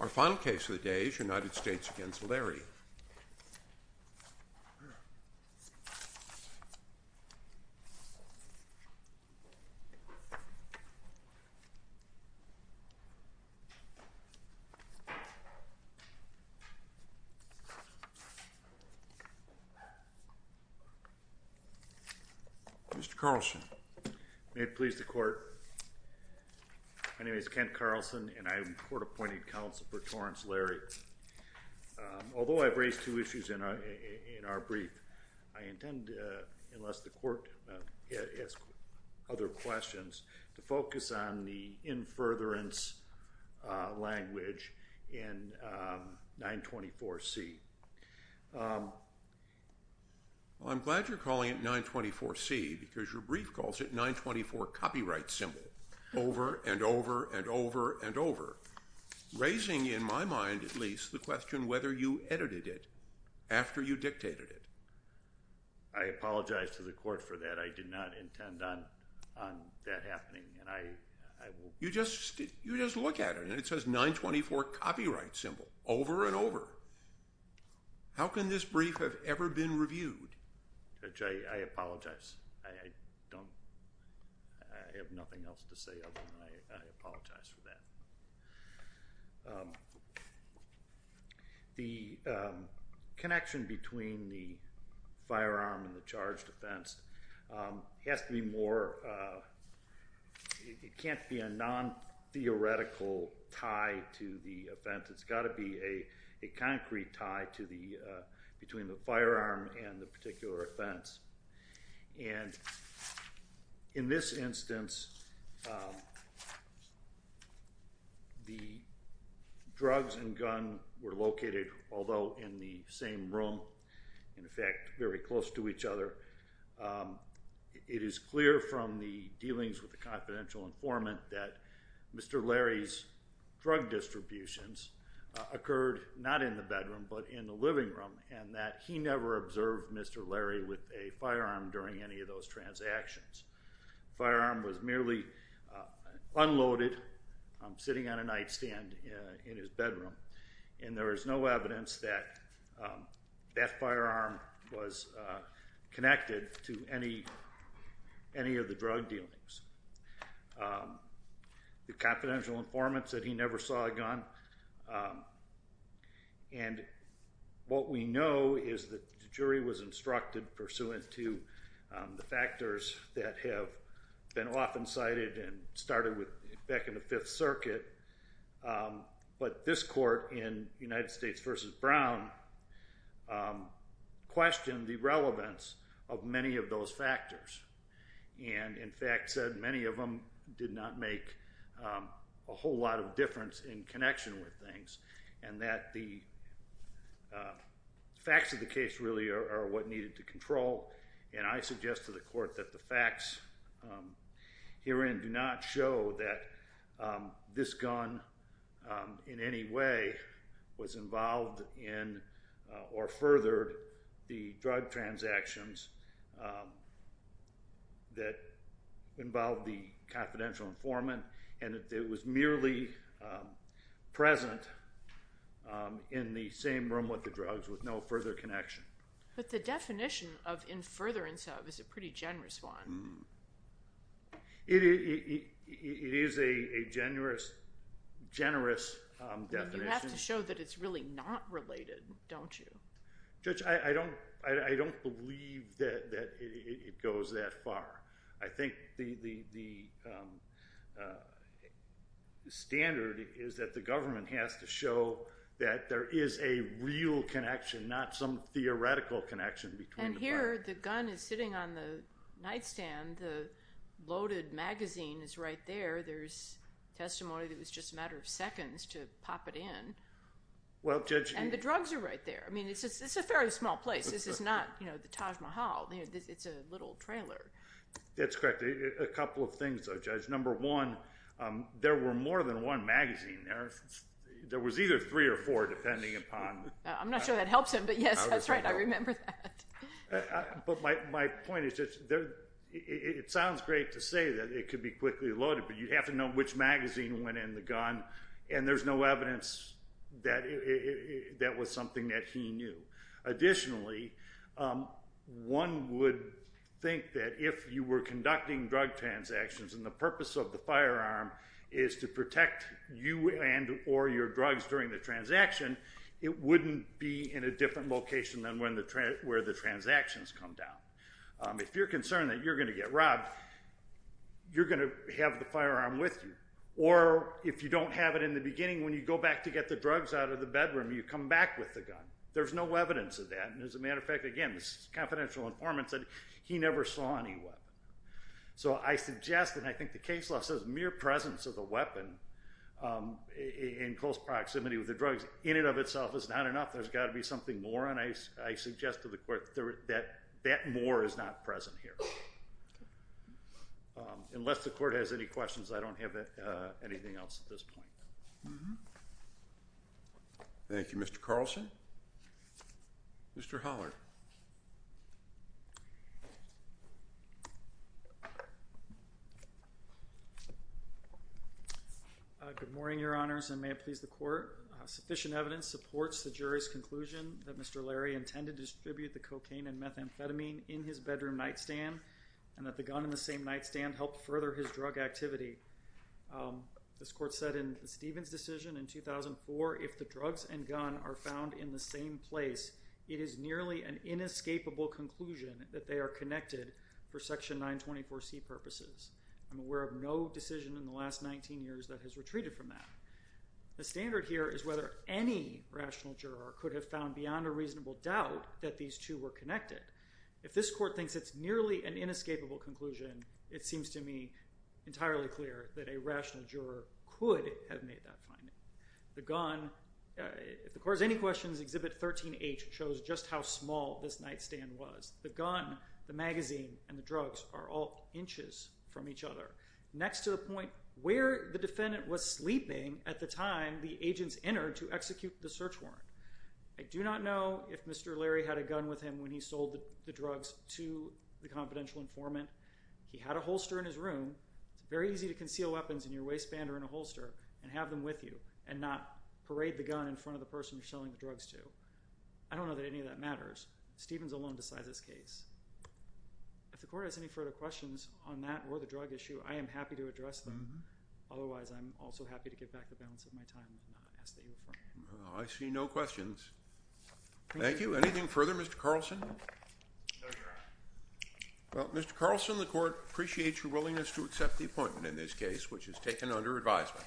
Our final case of the day is United States v. Larry. Mr. Carlson. May it please the court. My name is Kent Carlson and I am court-appointed counsel for Torrence Larry. Although I've raised two issues in our brief, I intend to, unless the court has other questions, to focus on the in-furtherance language in 924C. I'm glad you're calling it 924C because your brief calls it 924 copyright symbol over and over and over and over, raising in my mind at least the question whether you edited it after you dictated it. I apologize to the court for that. I did not intend on that happening. You just look at it and it says 924 copyright symbol over and over. How can this brief have ever been reviewed? Judge, I apologize. I have nothing else to say other than I apologize for that. The connection between the firearm and the charged offense has to be more, it can't be a non-theoretical tie to the offense. It's got to be a concrete tie between the firearm and the particular offense. And in this instance, the drugs and gun were located, although in the same room, in effect very close to each other. It is clear from the dealings with the confidential informant that Mr. Larry's drug distributions occurred not in the bedroom, but in the living room, and that he never observed Mr. Larry with a firearm during any of those transactions. The firearm was merely unloaded, sitting on a nightstand in his bedroom, and there is no evidence that that firearm was connected to any of the drug dealings. The confidential informant said he never saw a gun. And what we know is that the jury was instructed, pursuant to the factors that have been often cited and started back in the Fifth Circuit, but this court in United States v. Brown questioned the relevance of many of those factors and, in fact, said many of them did not make a whole lot of difference in connection with things and that the facts of the case really are what needed to control. And I suggest to the court that the facts herein do not show that this gun, in any way, was involved in or furthered the drug transactions that involved the confidential informant and that it was merely present in the same room with the drugs with no further connection. But the definition of in furtherance of is a pretty generous one. It is a generous definition. But you have to show that it's really not related, don't you? Judge, I don't believe that it goes that far. I think the standard is that the government has to show that there is a real connection, not some theoretical connection between the parties. And here the gun is sitting on the nightstand. The loaded magazine is right there. There's testimony that it was just a matter of seconds to pop it in. And the drugs are right there. I mean, it's a fairly small place. This is not the Taj Mahal. It's a little trailer. That's correct. A couple of things, though, Judge. Number one, there were more than one magazine there. There was either three or four, depending upon— I'm not sure that helps him, but, yes, that's right. I remember that. But my point is just it sounds great to say that it could be quickly loaded, but you have to know which magazine went in the gun, and there's no evidence that that was something that he knew. Additionally, one would think that if you were conducting drug transactions and the purpose of the firearm is to protect you and or your drugs during the transaction, it wouldn't be in a different location than where the transactions come down. If you're concerned that you're going to get robbed, you're going to have the firearm with you. Or if you don't have it in the beginning when you go back to get the drugs out of the bedroom, you come back with the gun. There's no evidence of that, and as a matter of fact, again, this is confidential informant said he never saw any weapon. So I suggest, and I think the case law says, that the mere presence of the weapon in close proximity with the drugs in and of itself is not enough. There's got to be something more, and I suggest to the Court that that more is not present here. Unless the Court has any questions, I don't have anything else at this point. Thank you. Mr. Carlson? Mr. Hollard? Good morning, Your Honors, and may it please the Court. Sufficient evidence supports the jury's conclusion that Mr. Larry intended to distribute the cocaine and methamphetamine in his bedroom nightstand, and that the gun in the same nightstand helped further his drug activity. This Court said in the Stevens decision in 2004, if the drugs and gun are found in the same place, it is nearly an inescapable conclusion that they are connected for Section 924C purposes. I'm aware of no decision in the last 19 years that has retreated from that. The standard here is whether any rational juror could have found beyond a reasonable doubt that these two were connected. If this Court thinks it's nearly an inescapable conclusion, it seems to me entirely clear that a rational juror could have made that finding. The gun, if the Court has any questions, Exhibit 13H shows just how small this nightstand was. The gun, the magazine, and the drugs are all inches from each other, next to the point where the defendant was sleeping at the time the agents entered to execute the search warrant. I do not know if Mr. Larry had a gun with him when he sold the drugs to the confidential informant. He had a holster in his room. It's very easy to conceal weapons in your waistband or in a holster and have them with you and not parade the gun in front of the person you're selling the drugs to. I don't know that any of that matters. Stevens alone decides this case. If the Court has any further questions on that or the drug issue, I am happy to address them. Otherwise, I'm also happy to give back the balance of my time and ask that you affirm. I see no questions. Thank you. Anything further, Mr. Carlson? No, Your Honor. Well, Mr. Carlson, the Court appreciates your willingness to accept the appointment in this case, which is taken under advisement.